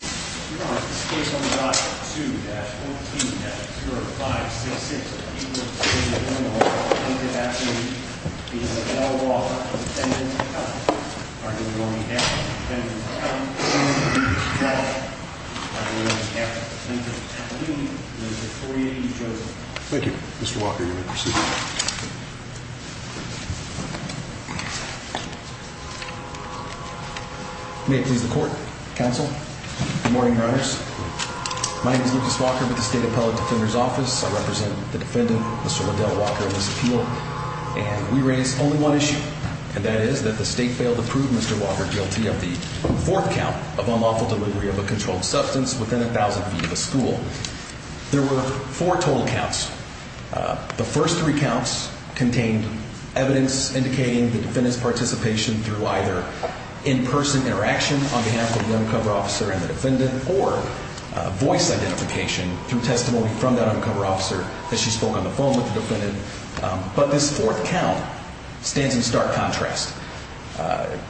2-14-305-6600 people to be admitted into the home of a plaintiff at the age of 18. Mr. Walker, you may proceed. Thank you. Mr. Walker, you may proceed. May it please the court, counsel, good morning, your honors. My name is Lucas Walker with the State Appellate Defender's Office. I represent the defendant, Mr. Wendell Walker, in this appeal. And we raise only one issue, and that is that the state failed to prove Mr. Walker guilty of the fourth count of unlawful delivery of a controlled substance within 1,000 feet of a school. There were four total counts. The first three counts contained evidence indicating the defendant's participation through either in-person interaction on behalf of the undercover officer and the defendant, or voice identification through testimony from that undercover officer as she spoke on the phone with the defendant. But this fourth count stands in stark contrast.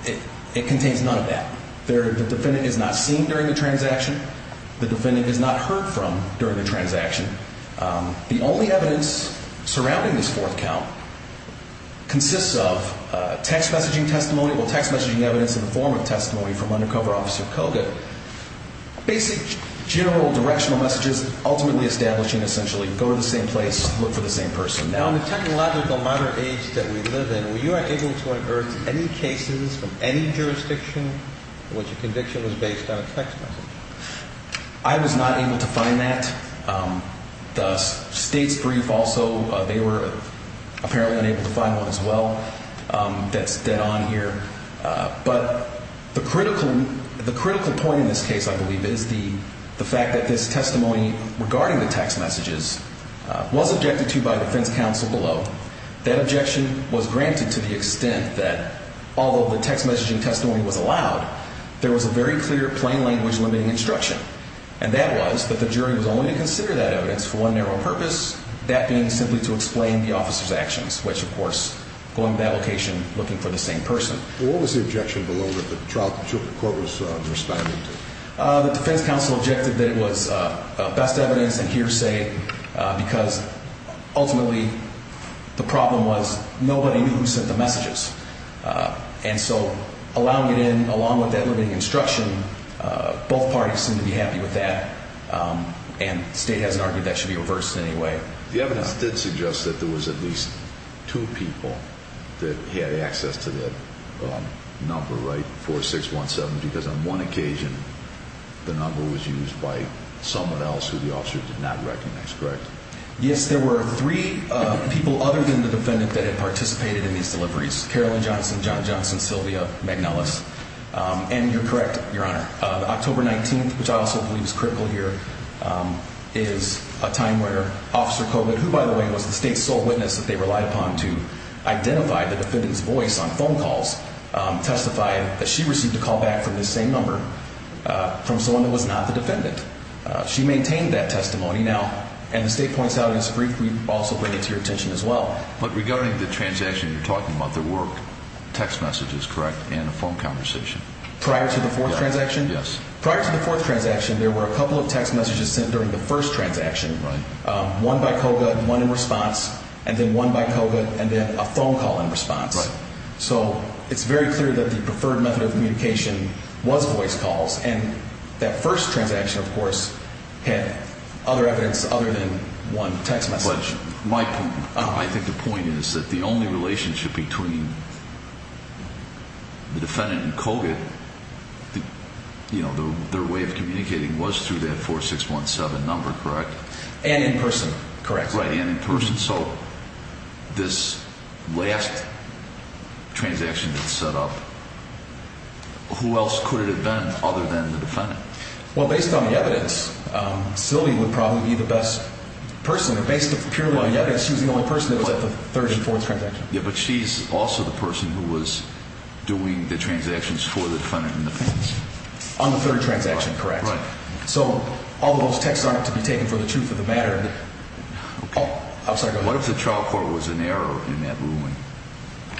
It contains none of that. The defendant is not seen during the transaction. The defendant is not heard from during the transaction. The only evidence surrounding this fourth count consists of text messaging testimony or text messaging evidence in the form of testimony from undercover officer Koga. Basic general directional messages ultimately establishing essentially go to the same place, look for the same person. Now, in the technological modern age that we live in, were you able to unearth any cases from any jurisdiction in which a conviction was based on a text message? I was not able to find that. The state's brief also, they were apparently unable to find one as well. That's dead on here. But the critical point in this case, I believe, is the fact that this testimony regarding the text messages was objected to by defense counsel below. That objection was granted to the extent that although the text messaging testimony was allowed, there was a very clear plain language limiting instruction. And that was that the jury was only to consider that evidence for one narrow purpose, that being simply to explain the officer's actions, which, of course, going to that location, looking for the same person. What was the objection below that the trial court was responding to? The defense counsel objected that it was best evidence and hearsay because ultimately the problem was nobody who sent the messages. And so allowing it in along with that limiting instruction, both parties seem to be happy with that. And the state hasn't argued that should be reversed in any way. The evidence did suggest that there was at least two people that had access to that number, right? Four, six, one, seven, because on one occasion the number was used by someone else who the officer did not recognize. Correct? Yes, there were three people other than the defendant that had participated in these deliveries. Carolyn Johnson, John Johnson, Sylvia McNellis. And you're correct, Your Honor. October 19th, which I also believe is critical here, is a time where Officer Colvin, who, by the way, was the state's sole witness that they relied upon to identify the defendant's voice on phone calls, testified that she received a call back from the same number from someone who was not the defendant. She maintained that testimony now and the state points out in this brief. We also bring it to your attention as well. But regarding the transaction, you're talking about the work text messages, correct? Prior to the fourth transaction? Yes. Prior to the fourth transaction, there were a couple of text messages sent during the first transaction. Right. One by COGA, one in response, and then one by COGA, and then a phone call in response. Right. So it's very clear that the preferred method of communication was voice calls. And that first transaction, of course, had other evidence other than one text message. My point, I think the point is that the only relationship between the defendant and COGA, you know, their way of communicating was through that 4617 number, correct? And in person, correct. Right, and in person. So this last transaction that's set up, who else could it have been other than the defendant? Well, based on the evidence, Sylvie would probably be the best person. Based purely on the evidence, she was the only person that was at the third and fourth transaction. Yeah, but she's also the person who was doing the transactions for the defendant in the first. On the third transaction, correct. Right. So all those texts aren't to be taken for the truth of the matter. Okay. Oh, I'm sorry, go ahead. What if the trial court was in error in that ruling?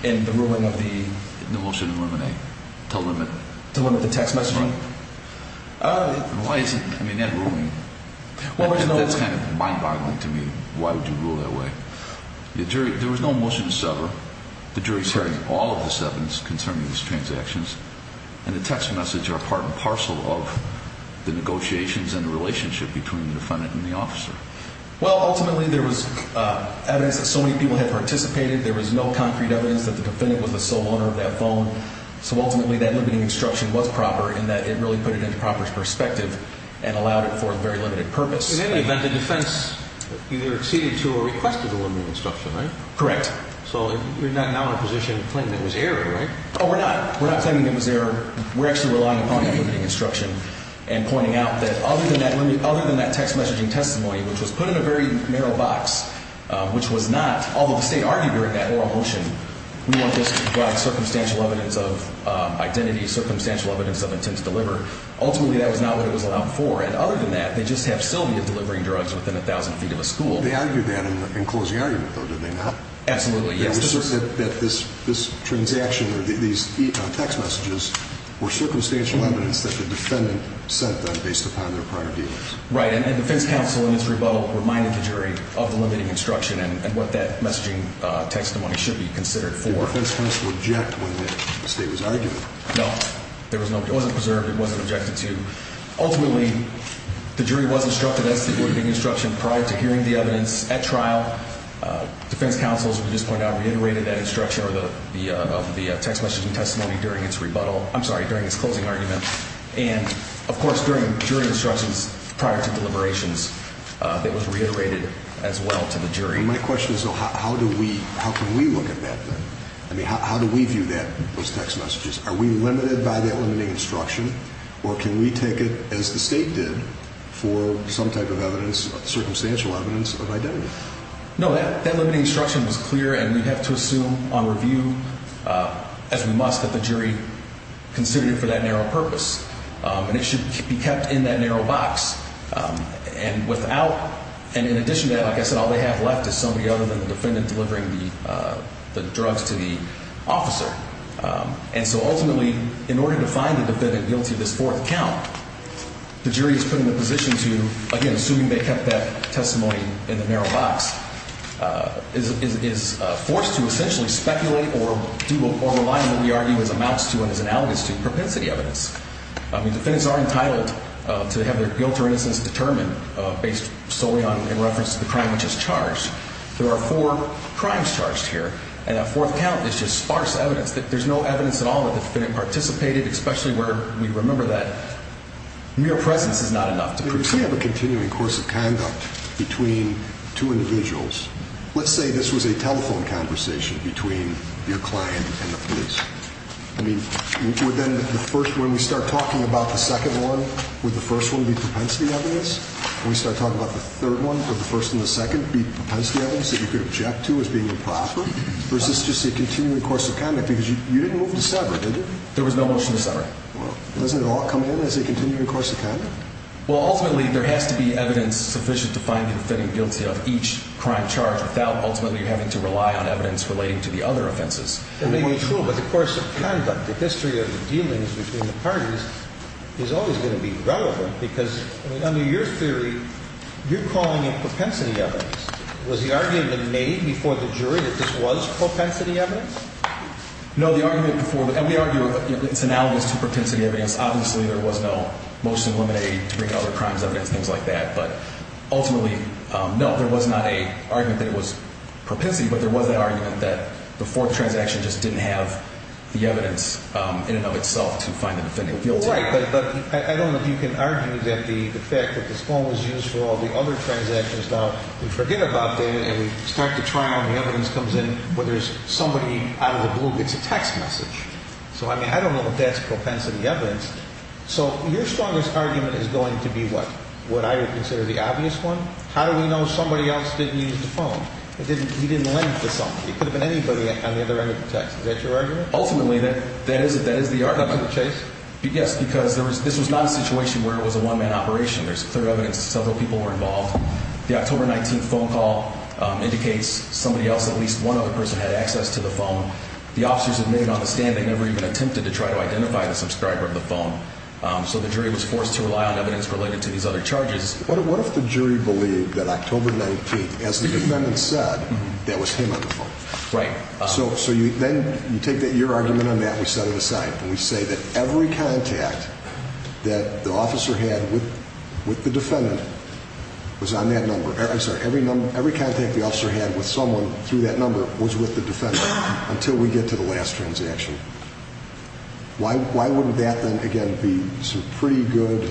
In the ruling of the? The motion to eliminate, to limit. To limit the text messaging? Why isn't, I mean, that ruling, that's kind of mind boggling to me. Why would you rule that way? The jury, there was no motion to sever. The jury's heard all of this evidence concerning these transactions. And the text message are part and parcel of the negotiations and the relationship between the defendant and the officer. Well, ultimately there was evidence that so many people had participated. There was no concrete evidence that the defendant was the sole owner of that phone. So ultimately that limiting instruction was proper in that it really put it into proper perspective and allowed it for a very limited purpose. In any event, the defense either acceded to or requested the limiting instruction, right? Correct. So you're not now in a position to claim it was error, right? Oh, we're not. We're not claiming it was error. We're actually relying upon that limiting instruction and pointing out that other than that text messaging testimony, which was put in a very narrow box, which was not, although the state argued during that oral motion, we want this to provide circumstantial evidence of identity, circumstantial evidence of intent to deliver. Ultimately, that was not what it was allowed for. And other than that, they just have Sylvia delivering drugs within 1,000 feet of a school. They argued that in closing argument, though, did they not? Absolutely, yes. They were certain that this transaction or these text messages were circumstantial evidence that the defendant sent them based upon their prior dealings. Right. And defense counsel, in its rebuttal, reminded the jury of the limiting instruction and what that messaging testimony should be considered for. Did defense counsel object when the state was arguing? No. It wasn't preserved. It wasn't objected to. Ultimately, the jury was instructed as to the limiting instruction prior to hearing the evidence at trial. Defense counsel, as we just pointed out, reiterated that instruction of the text messaging testimony during its rebuttal. I'm sorry, during its closing argument. And, of course, during jury instructions prior to deliberations that was reiterated as well to the jury. My question is, though, how do we look at that then? I mean, how do we view that, those text messages? Are we limited by that limiting instruction, or can we take it, as the state did, for some type of evidence, circumstantial evidence of identity? No, that limiting instruction was clear, and we have to assume on review, as we must, that the jury considered it for that narrow purpose. And it should be kept in that narrow box. And in addition to that, like I said, all they have left is somebody other than the defendant delivering the drugs to the officer. And so ultimately, in order to find the defendant guilty of this fourth count, the jury is put in a position to, again, assuming they kept that testimony in the narrow box, is forced to essentially speculate or rely on what we argue amounts to and is analogous to propensity evidence. I mean, defendants are entitled to have their guilt or innocence determined based solely in reference to the crime which is charged. There are four crimes charged here, and that fourth count is just sparse evidence. There's no evidence at all that the defendant participated, especially where we remember that mere presence is not enough to prove something. If we have a continuing course of conduct between two individuals, let's say this was a telephone conversation between your client and the police. I mean, would then the first, when we start talking about the second one, would the first one be propensity evidence? When we start talking about the third one, would the first and the second be propensity evidence that you could object to as being improper? Or is this just a continuing course of conduct? Because you didn't move to sever, did you? There was no motion to sever. Well, doesn't it all come in as a continuing course of conduct? Well, ultimately, there has to be evidence sufficient to find the defendant guilty of each crime charge without ultimately having to rely on evidence relating to the other offenses. It may be true, but the course of conduct, the history of the dealings between the parties is always going to be relevant because, I mean, under your theory, you're calling it propensity evidence. Was the argument made before the jury that this was propensity evidence? No, the argument before, and we argue it's analogous to propensity evidence. Obviously, there was no motion to eliminate to bring out the crimes evidence, things like that. But ultimately, no, there was not an argument that it was propensity, but there was an argument that the fourth transaction just didn't have the evidence in and of itself to find the defendant guilty. That's right, but I don't know if you can argue that the fact that this phone was used for all the other transactions. Now, we forget about that, and we start the trial, and the evidence comes in, but there's somebody out of the blue gets a text message. So, I mean, I don't know if that's propensity evidence. So your strongest argument is going to be what? What I would consider the obvious one? How do we know somebody else didn't use the phone? He didn't link to somebody. It could have been anybody on the other end of the text. Is that your argument? Ultimately, that is the argument. Yes, because this was not a situation where it was a one-man operation. There's clear evidence that several people were involved. The October 19th phone call indicates somebody else, at least one other person, had access to the phone. The officers admitted on the stand they never even attempted to try to identify the subscriber of the phone. So the jury was forced to rely on evidence related to these other charges. What if the jury believed that October 19th, as the defendant said, that was him on the phone? Right. So then you take your argument on that and we set it aside. And we say that every contact that the officer had with the defendant was on that number. I'm sorry, every contact the officer had with someone through that number was with the defendant until we get to the last transaction. Why wouldn't that then, again, be some pretty good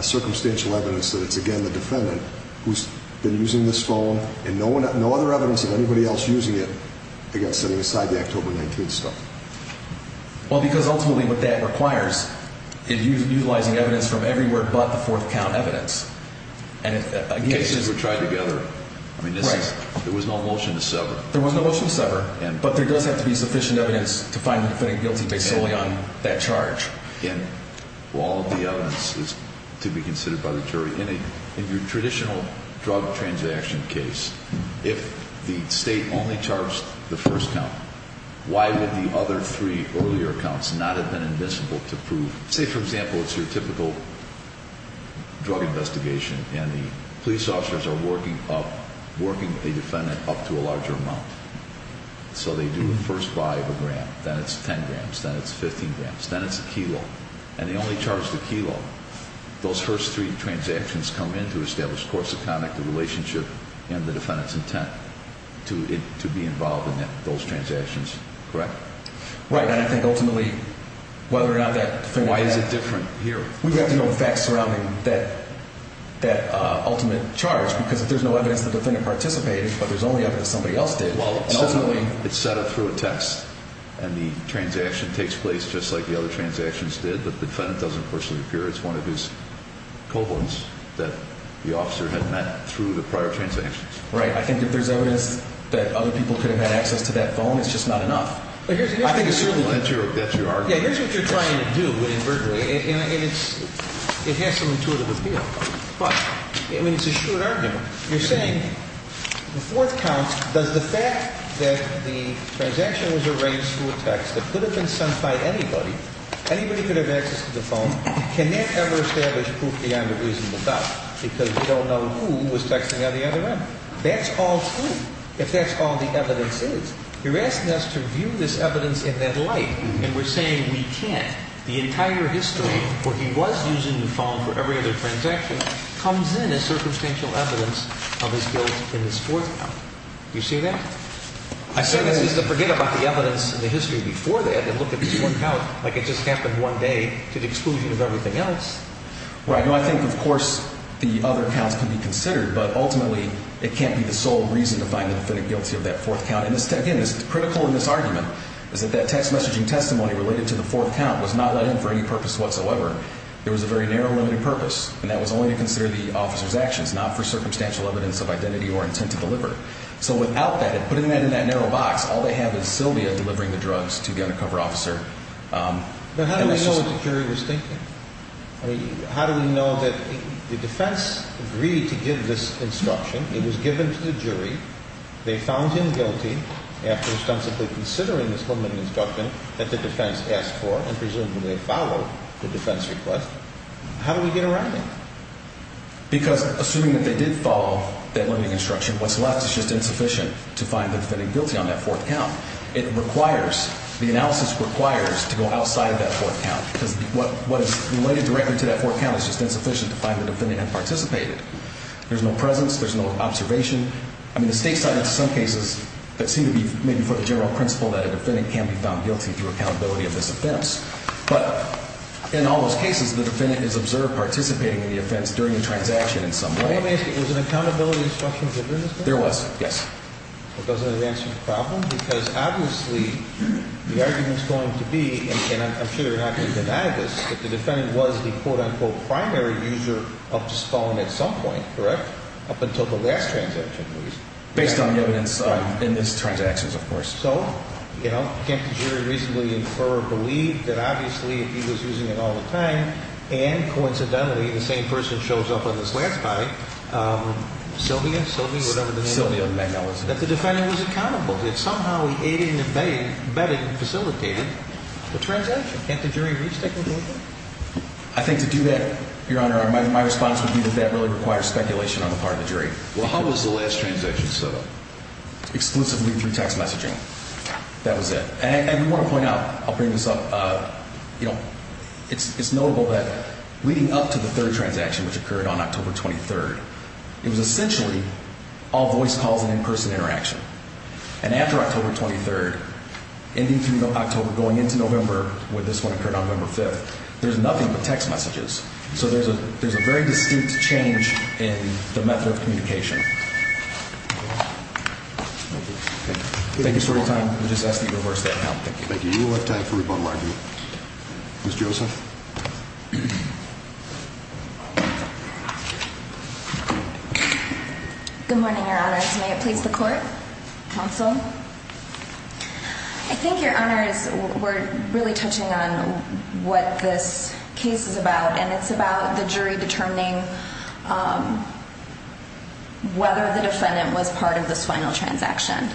circumstantial evidence that it's, again, the defendant who's been using this phone and no other evidence of anybody else using it, again, setting aside the October 19th stuff? Well, because ultimately what that requires is utilizing evidence from everywhere but the fourth count evidence. The cases were tried together. I mean, there was no motion to sever. There was no motion to sever. But there does have to be sufficient evidence to find the defendant guilty based solely on that charge. And all of the evidence is to be considered by the jury. In your traditional drug transaction case, if the state only charts the first count, why would the other three earlier counts not have been admissible to prove? Say, for example, it's your typical drug investigation and the police officers are working up, working the defendant up to a larger amount. So they do the first buy of a gram. Then it's 10 grams. Then it's 15 grams. Then it's a kilo. And they only charge the kilo. Those first three transactions come in to establish course of conduct, the relationship, and the defendant's intent to be involved in those transactions. Correct? Right. And I think ultimately whether or not that defendant had – Why is it different here? We have to know the facts surrounding that ultimate charge because if there's no evidence the defendant participated but there's only evidence somebody else did – Well, ultimately – It's set up through a text and the transaction takes place just like the other transactions did, but the defendant doesn't personally appear. It's one of his cohorts that the officer had met through the prior transactions. Right. I think if there's evidence that other people could have had access to that phone, it's just not enough. I think it's certainly – That's your argument. Yeah. Here's what you're trying to do inadvertently, and it has some intuitive appeal, but, I mean, it's a short argument. You're saying the fourth count, does the fact that the transaction was arranged through a text that could have been sent by anybody, anybody could have access to the phone, can that ever establish proof beyond a reasonable doubt because we don't know who was texting on the other end? That's all true if that's all the evidence is. You're asking us to view this evidence in that light, and we're saying we can't. The entire history where he was using the phone for every other transaction comes in as circumstantial evidence of his guilt in this fourth count. Do you see that? I certainly – This is to forget about the evidence in the history before that and look at this one count like it just happened one day to the exclusion of everything else. Right. Now, I think, of course, the other counts can be considered, but ultimately it can't be the sole reason to find the definite guilty of that fourth count. And, again, what's critical in this argument is that that text messaging testimony related to the fourth count was not let in for any purpose whatsoever. It was a very narrow, limited purpose, and that was only to consider the officer's actions, not for circumstantial evidence of identity or intent to deliver. So without that, putting that in that narrow box, all they have is Sylvia delivering the drugs to the undercover officer. But how do we know what the jury was thinking? I mean, how do we know that the defense agreed to give this instruction? It was given to the jury. They found him guilty after ostensibly considering this limiting instruction that the defense asked for and presumably followed the defense request. How do we get a writing? Because assuming that they did follow that limiting instruction, what's left is just insufficient to find the defendant guilty on that fourth count. It requires, the analysis requires to go outside of that fourth count because what is related directly to that fourth count is just insufficient to find the defendant had participated. There's no presence. There's no observation. I mean, the state cited some cases that seem to be maybe for the general principle that a defendant can be found guilty through accountability of this offense. But in all those cases, the defendant is observed participating in the offense during the transaction in some way. Was an accountability instruction given as well? There was, yes. It doesn't answer the problem because obviously the argument is going to be, and I'm sure you're not going to deny this, that the defendant was the quote unquote primary user of this phone at some point, correct? Up until the last transaction, at least. Based on the evidence in these transactions, of course. So, you know, can't the jury reasonably infer or believe that obviously he was using it all the time and coincidentally the same person shows up on this last body. Sylvia? Sylvia, whatever the name is. That the defendant was accountable, that somehow he aided and abetted and facilitated the transaction. Can't the jury reasonably conclude that? I think to do that, Your Honor, my response would be that that really requires speculation on the part of the jury. Well, how was the last transaction set up? Exclusively through text messaging. That was it. And I do want to point out, I'll bring this up, you know, it's notable that leading up to the third transaction, which occurred on October 23rd, it was essentially all voice calls and in-person interaction. And after October 23rd, ending through October, going into November, where this one occurred on November 5th, there's nothing but text messages. So there's a very distinct change in the method of communication. Thank you for your time. We'll just ask that you reverse that now. Thank you. Thank you. We will have time for rebuttal argument. Ms. Joseph? Good morning, Your Honors. May it please the Court? Counsel? I think, Your Honors, we're really touching on what this case is about, and it's about the jury determining whether the defendant was part of this final transaction.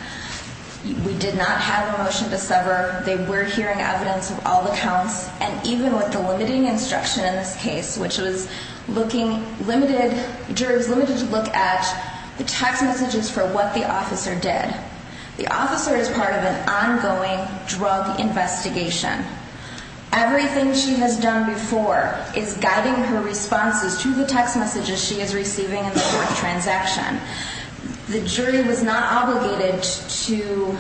We did not have a motion to sever. They were hearing evidence of all the counts, and even with the limiting instruction in this case, which was looking limited, the jury was limited to look at the text messages for what the officer did. The officer is part of an ongoing drug investigation. Everything she has done before is guiding her responses to the text messages she is receiving in the fourth transaction. The jury was not obligated to...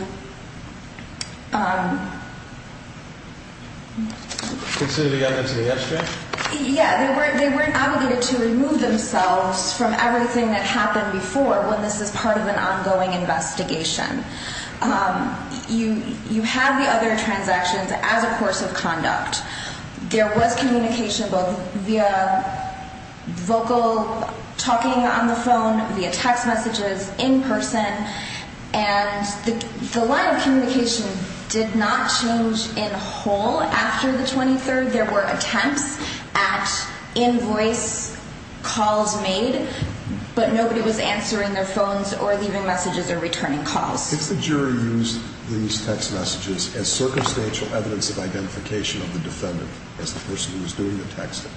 Consider the evidence of the abstract? Yeah, they weren't obligated to remove themselves from everything that happened before when this is part of an ongoing investigation. You have the other transactions as a course of conduct. There was communication both via vocal talking on the phone, via text messages, in person, and the line of communication did not change in whole after the 23rd. There were attempts at invoice calls made, but nobody was answering their phones or leaving messages or returning calls. If the jury used these text messages as circumstantial evidence of identification of the defendant as the person who was doing the texting,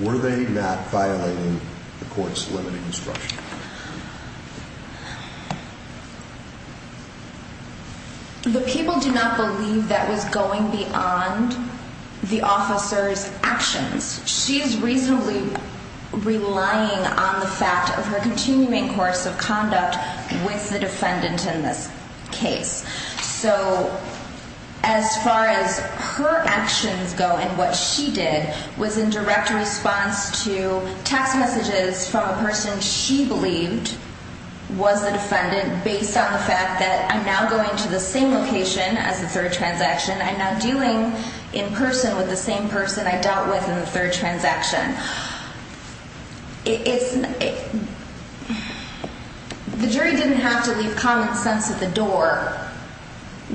were they not violating the court's limiting instruction? The people do not believe that was going beyond the officer's actions. She's reasonably relying on the fact of her continuing course of conduct with the defendant in this case. So, as far as her actions go and what she did, was in direct response to text messages from a person she believed was the defendant based on the fact that I'm now going to the same location as the third transaction. I'm now dealing in person with the same person I dealt with in the third transaction. It's... The jury didn't have to leave common sense at the door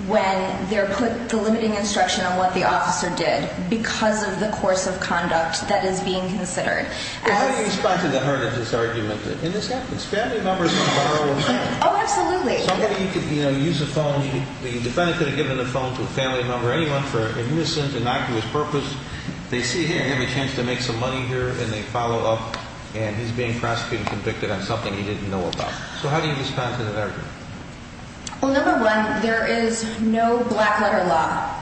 when they're put the limiting instruction on what the officer did because of the course of conduct that is being considered. How do you respond to the hurt of this argument? And this happens. Family members can borrow a phone. Oh, absolutely. Somebody could, you know, use a phone. The defendant could have given the phone to a family member, anyone, for a missing, innocuous purpose. They see him and have a chance to make some money here and they follow up and he's being prosecuted and convicted on something he didn't know about. So how do you respond to that argument? Well, number one, there is no black letter law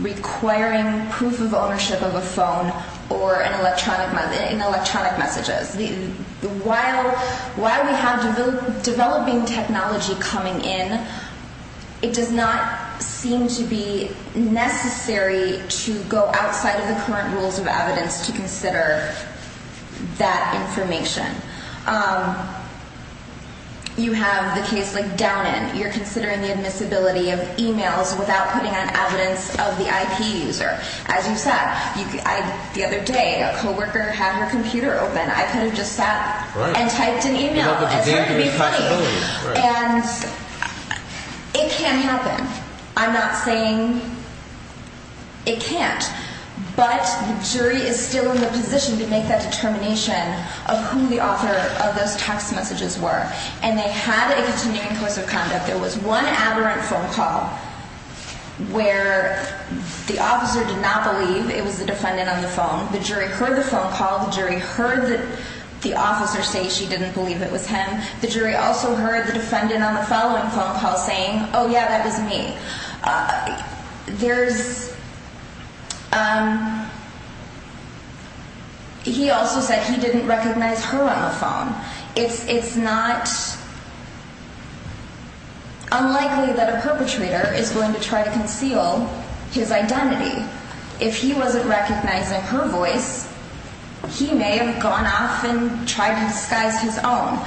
requiring proof of ownership of a phone or an electronic... in electronic messages. While we have developing technology coming in, it does not seem to be necessary to go outside of the current rules of evidence to consider that information. You have the case like Downand. You're considering the admissibility of emails without putting on evidence of the IP user. As you said, the other day, a co-worker had her computer open. I could have just sat and typed an email. It's going to be funny. And it can happen. I'm not saying it can't. But the jury is still in the position to make that determination of who the author of those text messages were. And they had a continuing course of conduct. There was one aberrant phone call where the officer did not believe it was the defendant on the phone. The jury heard the phone call. The jury heard the officer say she didn't believe it was him. The jury also heard the defendant on the following phone call saying, oh, yeah, that was me. There's... He also said he didn't recognize her on the phone. It's not unlikely that a perpetrator is going to try to conceal his identity. If he wasn't recognizing her voice, he may have gone off and tried to disguise his own.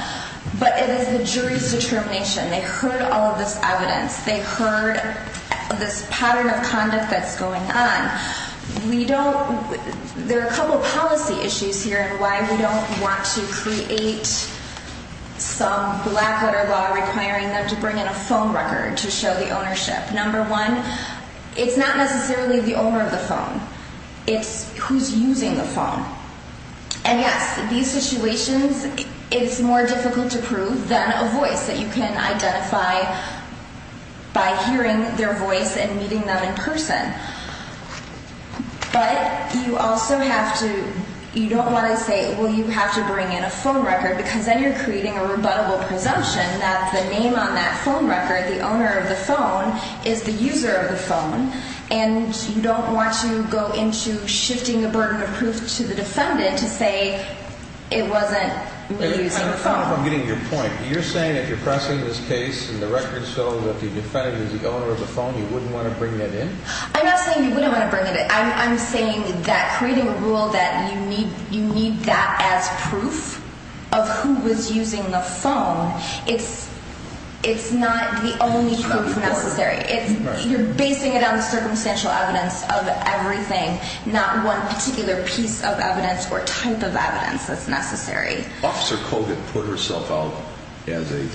But it is the jury's determination. They heard all of this evidence. They heard this pattern of conduct that's going on. We don't... There are a couple policy issues here in why we don't want to create some black-letter law requiring them to bring in a phone record to show the ownership. Number one, it's not necessarily the owner of the phone. It's who's using the phone. And, yes, these situations, it's more difficult to prove than a voice that you can identify by hearing their voice and meeting them in person. But you also have to... You don't want to say, well, you have to bring in a phone record, because then you're creating a rebuttable presumption that the name on that phone record, the owner of the phone, is the user of the phone. And you don't want to go into shifting the burden of proof to the defendant to say it wasn't me using the phone. I don't know if I'm getting your point. You're saying if you're pressing this case and the records show that the defendant is the owner of the phone, you wouldn't want to bring that in? I'm not saying you wouldn't want to bring it in. I'm saying that creating a rule that you need that as proof of who was using the phone, it's not the only proof necessary. You're basing it on the circumstantial evidence of everything, not one particular piece of evidence or type of evidence that's necessary. Officer Kogut put herself out as a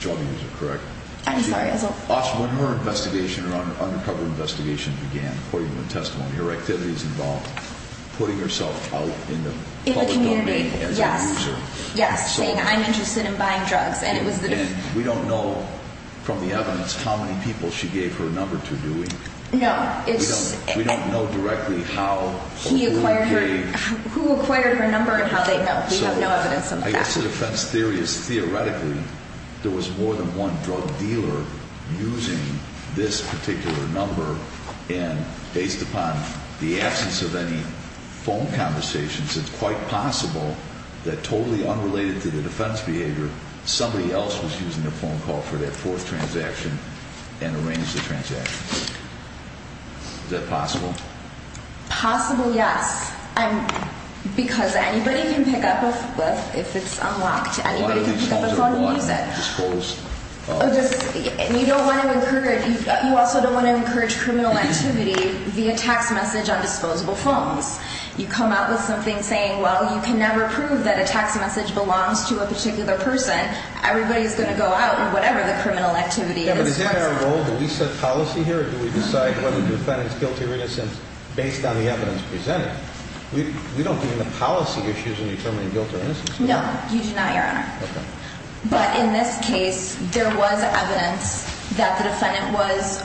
drug user, correct? I'm sorry, as a... When her investigation, her undercover investigation began, according to the testimony, her activities involved putting herself out in the public domain as a user. In the community, yes. Saying I'm interested in buying drugs. And we don't know from the evidence how many people she gave her number to, do we? No. We don't know directly how... Who acquired her number and how they know. We have no evidence of that. I guess the defense theory is theoretically there was more than one drug dealer using this particular number. And based upon the absence of any phone conversations, it's quite possible that totally unrelated to the defense behavior, somebody else was using a phone call for that fourth transaction and arranged the transaction. Is that possible? Possible, yes. Because anybody can pick up a phone if it's unlocked. A lot of these phones are bought and disposed of. You don't want to encourage, you also don't want to encourage criminal activity via text message on disposable phones. You come out with something saying, well, you can never prove that a text message belongs to a particular person. Everybody is going to go out in whatever the criminal activity is. Yeah, but is that our role? Do we set policy here or do we decide whether the defendant is guilty or innocent based on the evidence presented? We don't do any policy issues in determining guilt or innocence. No, you do not, Your Honor. Okay. But in this case, there was evidence that the defendant was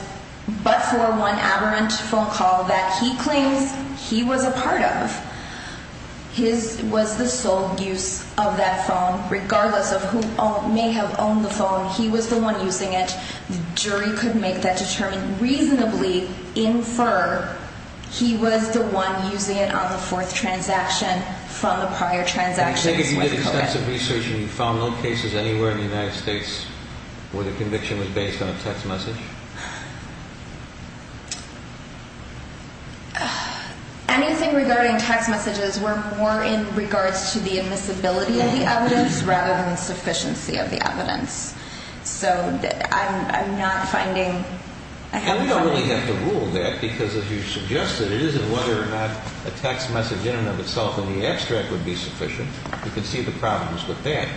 but for one aberrant phone call that he claims he was a part of. His was the sole use of that phone regardless of who may have owned the phone. He was the one using it. The jury could make that determined reasonably infer he was the one using it on the fourth transaction from the prior transactions. I take it you did extensive research and you found no cases anywhere in the United States where the conviction was based on a text message? Anything regarding text messages were more in regards to the admissibility of the evidence rather than the sufficiency of the evidence. So I'm not finding, I haven't found anything. Well, you don't have to rule that because as you suggested, it isn't whether or not a text message in and of itself in the abstract would be sufficient. You can see the problems with that.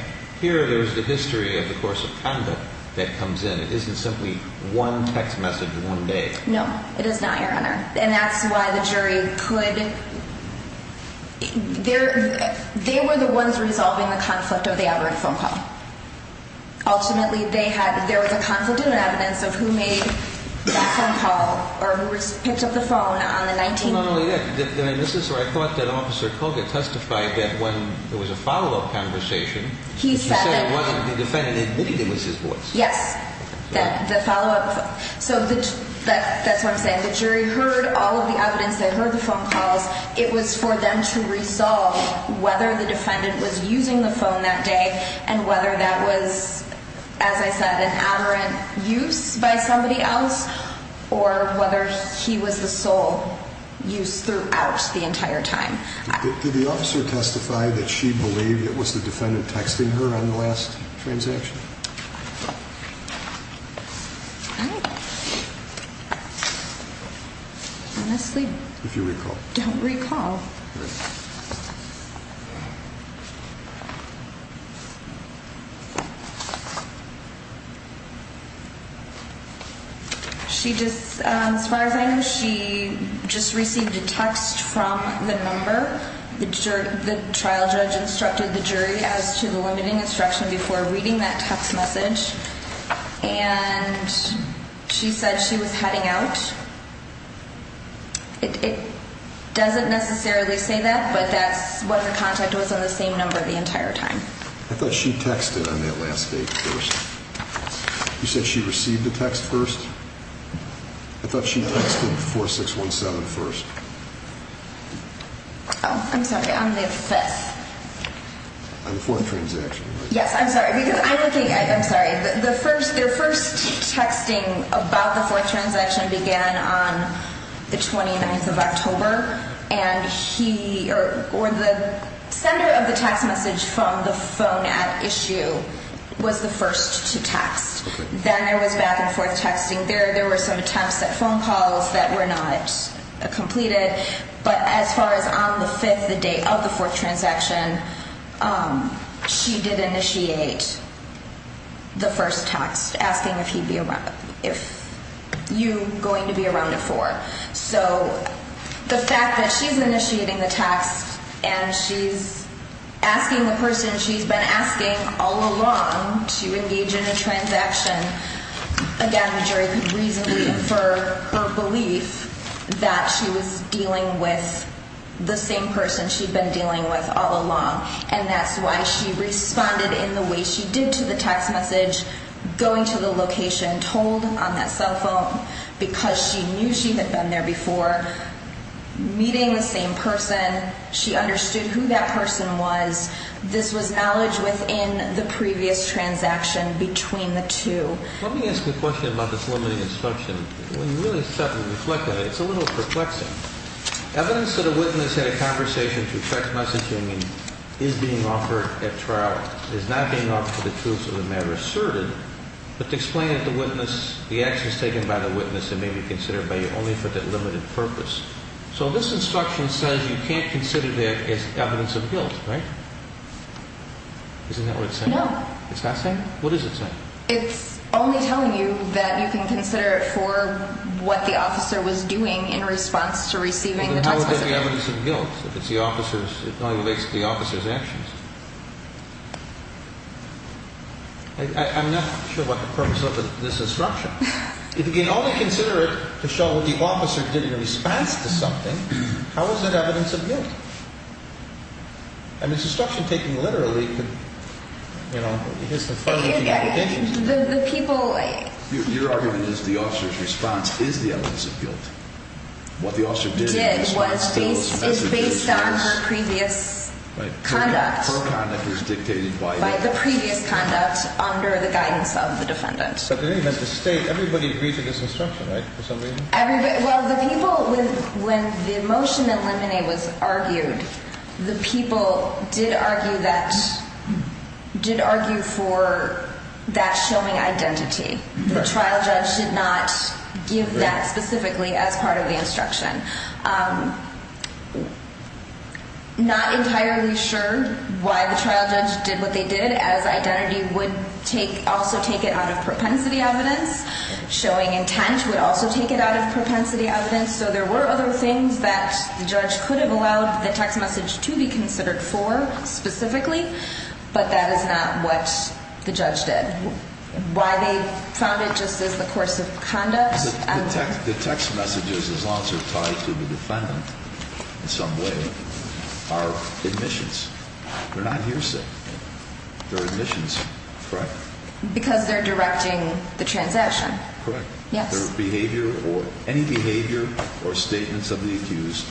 Here there's the history of the course of conduct that comes in. It isn't simply one text message in one day. No, it is not, Your Honor. And that's why the jury could, they were the ones resolving the conflict of the aberrant phone call. Ultimately, they had, there was a conflict of evidence of who made that phone call or who picked up the phone on the 19th. Well, not only that, this is where I thought that Officer Koga testified that when there was a follow-up conversation, he said it wasn't the defendant admitting it was his voice. Yes. The follow-up, so that's what I'm saying. When the jury heard all of the evidence, they heard the phone calls, it was for them to resolve whether the defendant was using the phone that day and whether that was, as I said, an aberrant use by somebody else or whether he was the sole use throughout the entire time. Did the officer testify that she believed it was the defendant texting her on the last transaction? I honestly don't recall. She just, as far as I know, she just received a text from the number. The trial judge instructed the jury as to the limiting instruction before reading that text message, and she said she was heading out. It doesn't necessarily say that, but that's what her contact was on the same number the entire time. I thought she texted on that last date first. You said she received a text first? I thought she texted 4617 first. Oh, I'm sorry, on the fifth. On the fourth transaction. Yes, I'm sorry, because I'm looking, I'm sorry, the first, their first texting about the fourth transaction began on the 29th of October, and he, or the sender of the text message from the phone at issue was the first to text. Then there was back and forth texting. There were some attempts at phone calls that were not completed, but as far as on the fifth, the date of the fourth transaction, she did initiate the first text asking if he'd be around, if you going to be around at four. So the fact that she's initiating the text and she's asking the person she's been asking all along to engage in a transaction, again, the jury could reasonably infer her belief that she was dealing with the same person she'd been dealing with all along. And that's why she responded in the way she did to the text message, going to the location, told on that cell phone because she knew she had been there before, meeting the same person. She understood who that person was. This was knowledge within the previous transaction between the two. Let me ask you a question about this limiting instruction. When you really start to reflect on it, it's a little perplexing. Evidence that a witness had a conversation through text messaging is being offered at trial is not being offered to the truth of the matter asserted, but to explain that the witness, the actions taken by the witness that may be considered by you only for that limited purpose. So this instruction says you can't consider that as evidence of guilt, right? Isn't that what it's saying? No. It's not saying that? What is it saying? It's only telling you that you can consider it for what the officer was doing in response to receiving the text message. It's only the evidence of guilt. If it's the officer's, it only relates to the officer's actions. I'm not sure what the purpose of this instruction is. If you can only consider it to show what the officer did in response to something, how is it evidence of guilt? I mean, this instruction taking literally could, you know, here's the further implications. The people. Your argument is the officer's response is the evidence of guilt. What the officer did was based on her previous conduct. Her conduct was dictated by the. By the previous conduct under the guidance of the defendant. But in any event, the state, everybody agreed to this instruction, right, for some reason? Everybody. Well, the people with when the motion eliminate was argued, the people did argue that did argue for that showing identity. The trial judge did not give that specifically as part of the instruction. Not entirely sure why the trial judge did what they did as identity would take also take it out of propensity evidence. Showing intent would also take it out of propensity evidence. So there were other things that the judge could have allowed the text message to be considered for specifically. But that is not what the judge did. Why they found it just as the course of conduct. The text messages is also tied to the defendant in some way. Our admissions. They're not hearsay. Because they're directing the transaction. Yes. Behavior or any behavior or statements of the accused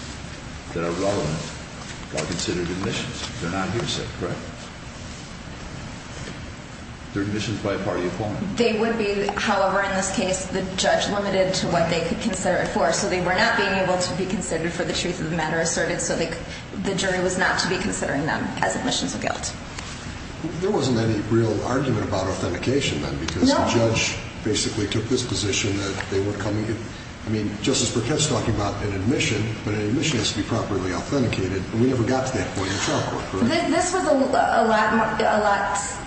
that are relevant are considered admissions. They're not hearsay. Correct. Their admissions by party. They would be. However, in this case, the judge limited to what they could consider it for. So they were not being able to be considered for the truth of the matter asserted. So the jury was not to be considering them as admissions of guilt. There wasn't any real argument about authentication then. Because the judge basically took this position that they were coming in. I mean, Justice Burkett's talking about an admission, but an admission has to be properly authenticated. And we never got to that point in the trial court. This was a lot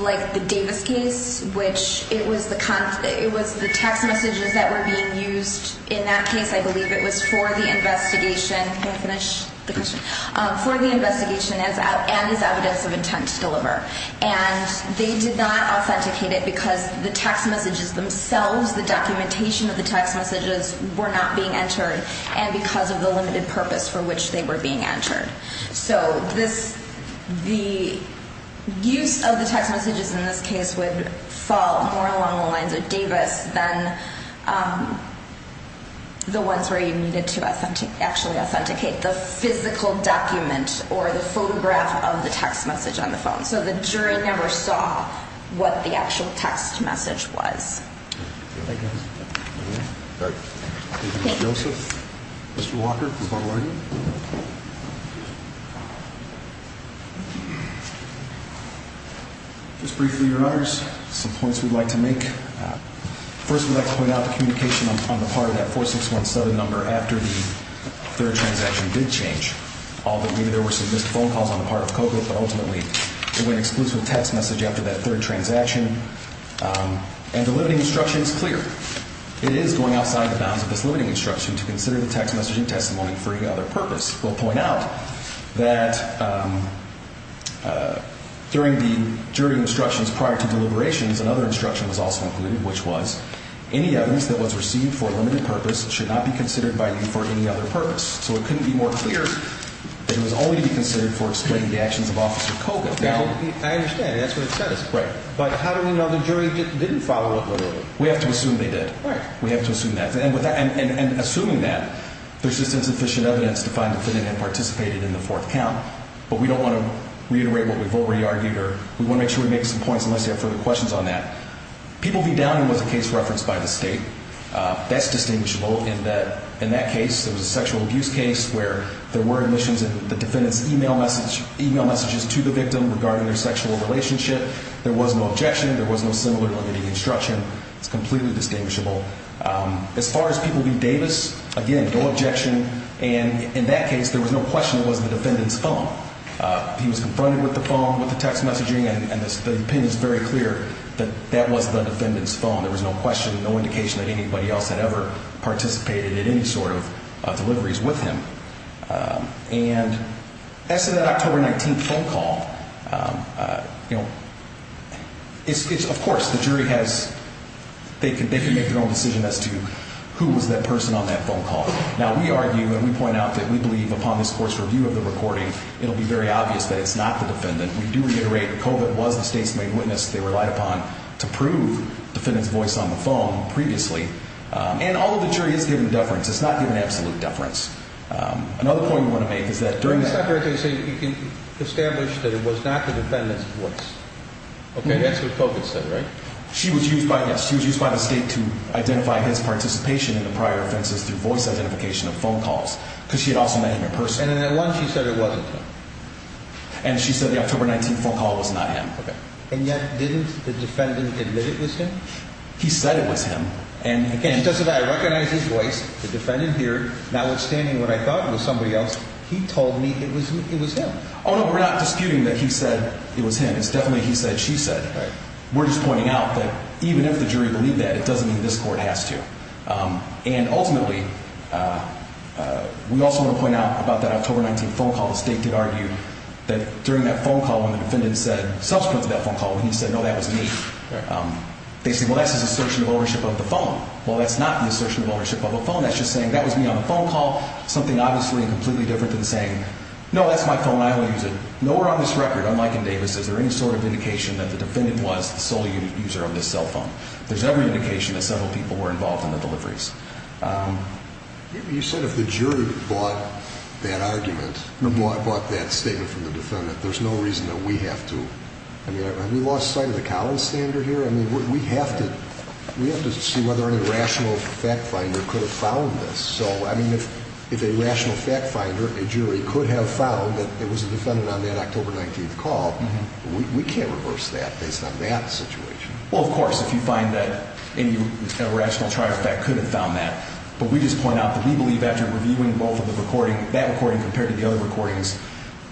like the Davis case, which it was the text messages that were being used in that case. I believe it was for the investigation. Can I finish the question? For the investigation and as evidence of intent to deliver. And they did not authenticate it because the text messages themselves, the documentation of the text messages, were not being entered. And because of the limited purpose for which they were being entered. So the use of the text messages in this case would fall more along the lines of Davis than the ones where you needed to actually authenticate. The physical document or the photograph of the text message on the phone. So the jury never saw what the actual text message was. Thank you. Mr. Walker. Just briefly, Your Honors, some points we'd like to make. First, we'd like to point out the communication on the part of that 4617 number after the third transaction did change. Although maybe there were some missed phone calls on the part of COCO, but ultimately it was an exclusive text message after that third transaction. And the limiting instruction is clear. It is going outside the bounds of this limiting instruction to consider the text messaging testimony for any other purpose. We'll point out that during the jury instructions prior to deliberations, another instruction was also included, which was any evidence that was received for a limited purpose should not be considered by you for any other purpose. So it couldn't be more clear that it was only considered for explaining the actions of Officer COCO. Now, I understand. That's what it says. Right. But how do we know the jury didn't follow up? We have to assume they did. We have to assume that. And assuming that, there's just insufficient evidence to find the defendant had participated in the fourth count. But we don't want to reiterate what we've already argued, or we want to make sure we make some points unless you have further questions on that. People v. Downing was a case referenced by the State. That's distinguishable in that case. It was a sexual abuse case where there were omissions in the defendant's email messages to the victim regarding their sexual relationship. There was no objection. There was no similar limiting instruction. It's completely distinguishable. As far as people v. Davis, again, no objection. And in that case, there was no question it was the defendant's phone. He was confronted with the phone, with the text messaging, and the opinion is very clear that that was the defendant's phone. There was no question, no indication that anybody else had ever participated in any sort of deliveries with him. And as to that October 19th phone call, you know, it's, of course, the jury has, they can make their own decision as to who was that person on that phone call. Now, we argue and we point out that we believe upon this court's review of the recording, it'll be very obvious that it's not the defendant. We do reiterate that COVID was the State's main witness they relied upon to prove the defendant's voice on the phone previously. And all of the jury is given deference. It's not given absolute deference. Another point we want to make is that during that time. It's not fair to say you can establish that it was not the defendant's voice. Okay, that's what COVID said, right? She was used by, yes, she was used by the State to identify his participation in the prior offenses through voice identification of phone calls because she had also met him in person. And then at once she said it wasn't him. And she said the October 19th phone call was not him. Okay. And yet didn't the defendant admit it was him? He said it was him. And again, I recognize his voice. The defendant here, notwithstanding what I thought was somebody else, he told me it was him. Oh, no, we're not disputing that he said it was him. It's definitely he said, she said. We're just pointing out that even if the jury believed that, it doesn't mean this court has to. And ultimately, we also want to point out about that October 19th phone call. The State did argue that during that phone call, when the defendant said subsequent to that phone call, when he said, no, that was me. They said, well, that's his assertion of ownership of the phone. Well, that's not the assertion of ownership of a phone. That's just saying that was me on the phone call. Something obviously completely different than saying, no, that's my phone. I only use it. Nowhere on this record, unlike in Davis, is there any sort of indication that the defendant was the sole user of this cell phone. There's no indication that several people were involved in the deliveries. You said if the jury bought that argument, bought that statement from the defendant, there's no reason that we have to. I mean, have we lost sight of the Collins standard here? I mean, we have to see whether any rational fact finder could have found this. So, I mean, if a rational fact finder, a jury, could have found that it was a defendant on that October 19th call, we can't reverse that based on that situation. Well, of course, if you find that any rational fact finder could have found that. But we just point out that we believe after reviewing both of the recording, that recording compared to the other recordings,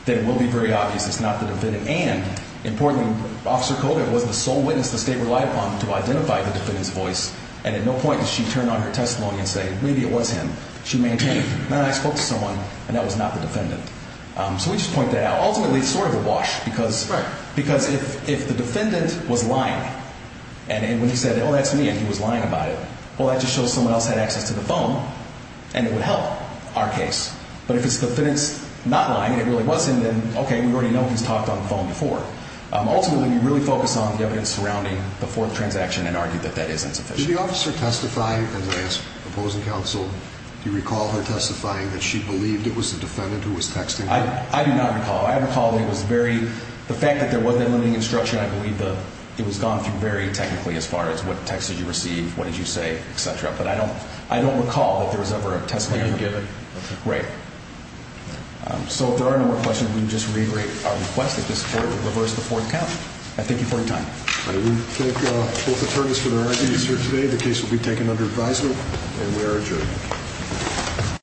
that it will be very obvious it's not the defendant. And importantly, Officer Kodak was the sole witness the state relied upon to identify the defendant's voice. And at no point did she turn on her testimony and say, maybe it was him. She maintained, no, I spoke to someone, and that was not the defendant. So we just point that out. Ultimately, it's sort of a wash, because if the defendant was lying, and when he said, oh, that's me, and he was lying about it, well, that just shows someone else had access to the phone. And it would help our case. But if it's the defendant's not lying, and it really wasn't, then, okay, we already know he's talked on the phone before. Ultimately, we really focus on the evidence surrounding the fourth transaction and argue that that is insufficient. Did the officer testify, as I asked opposing counsel, do you recall her testifying that she believed it was the defendant who was texting her? I do not recall. I recall it was very, the fact that there was that limiting instruction, I believe it was gone through very technically as far as what text did you receive, what did you say, et cetera. But I don't recall that there was ever a testimony given. Okay, great. So if there are no more questions, we can just reiterate our request that this court reverse the fourth count. I thank you for your time. All right, we thank both attorneys for their ideas here today. The case will be taken under advisement, and we are adjourned.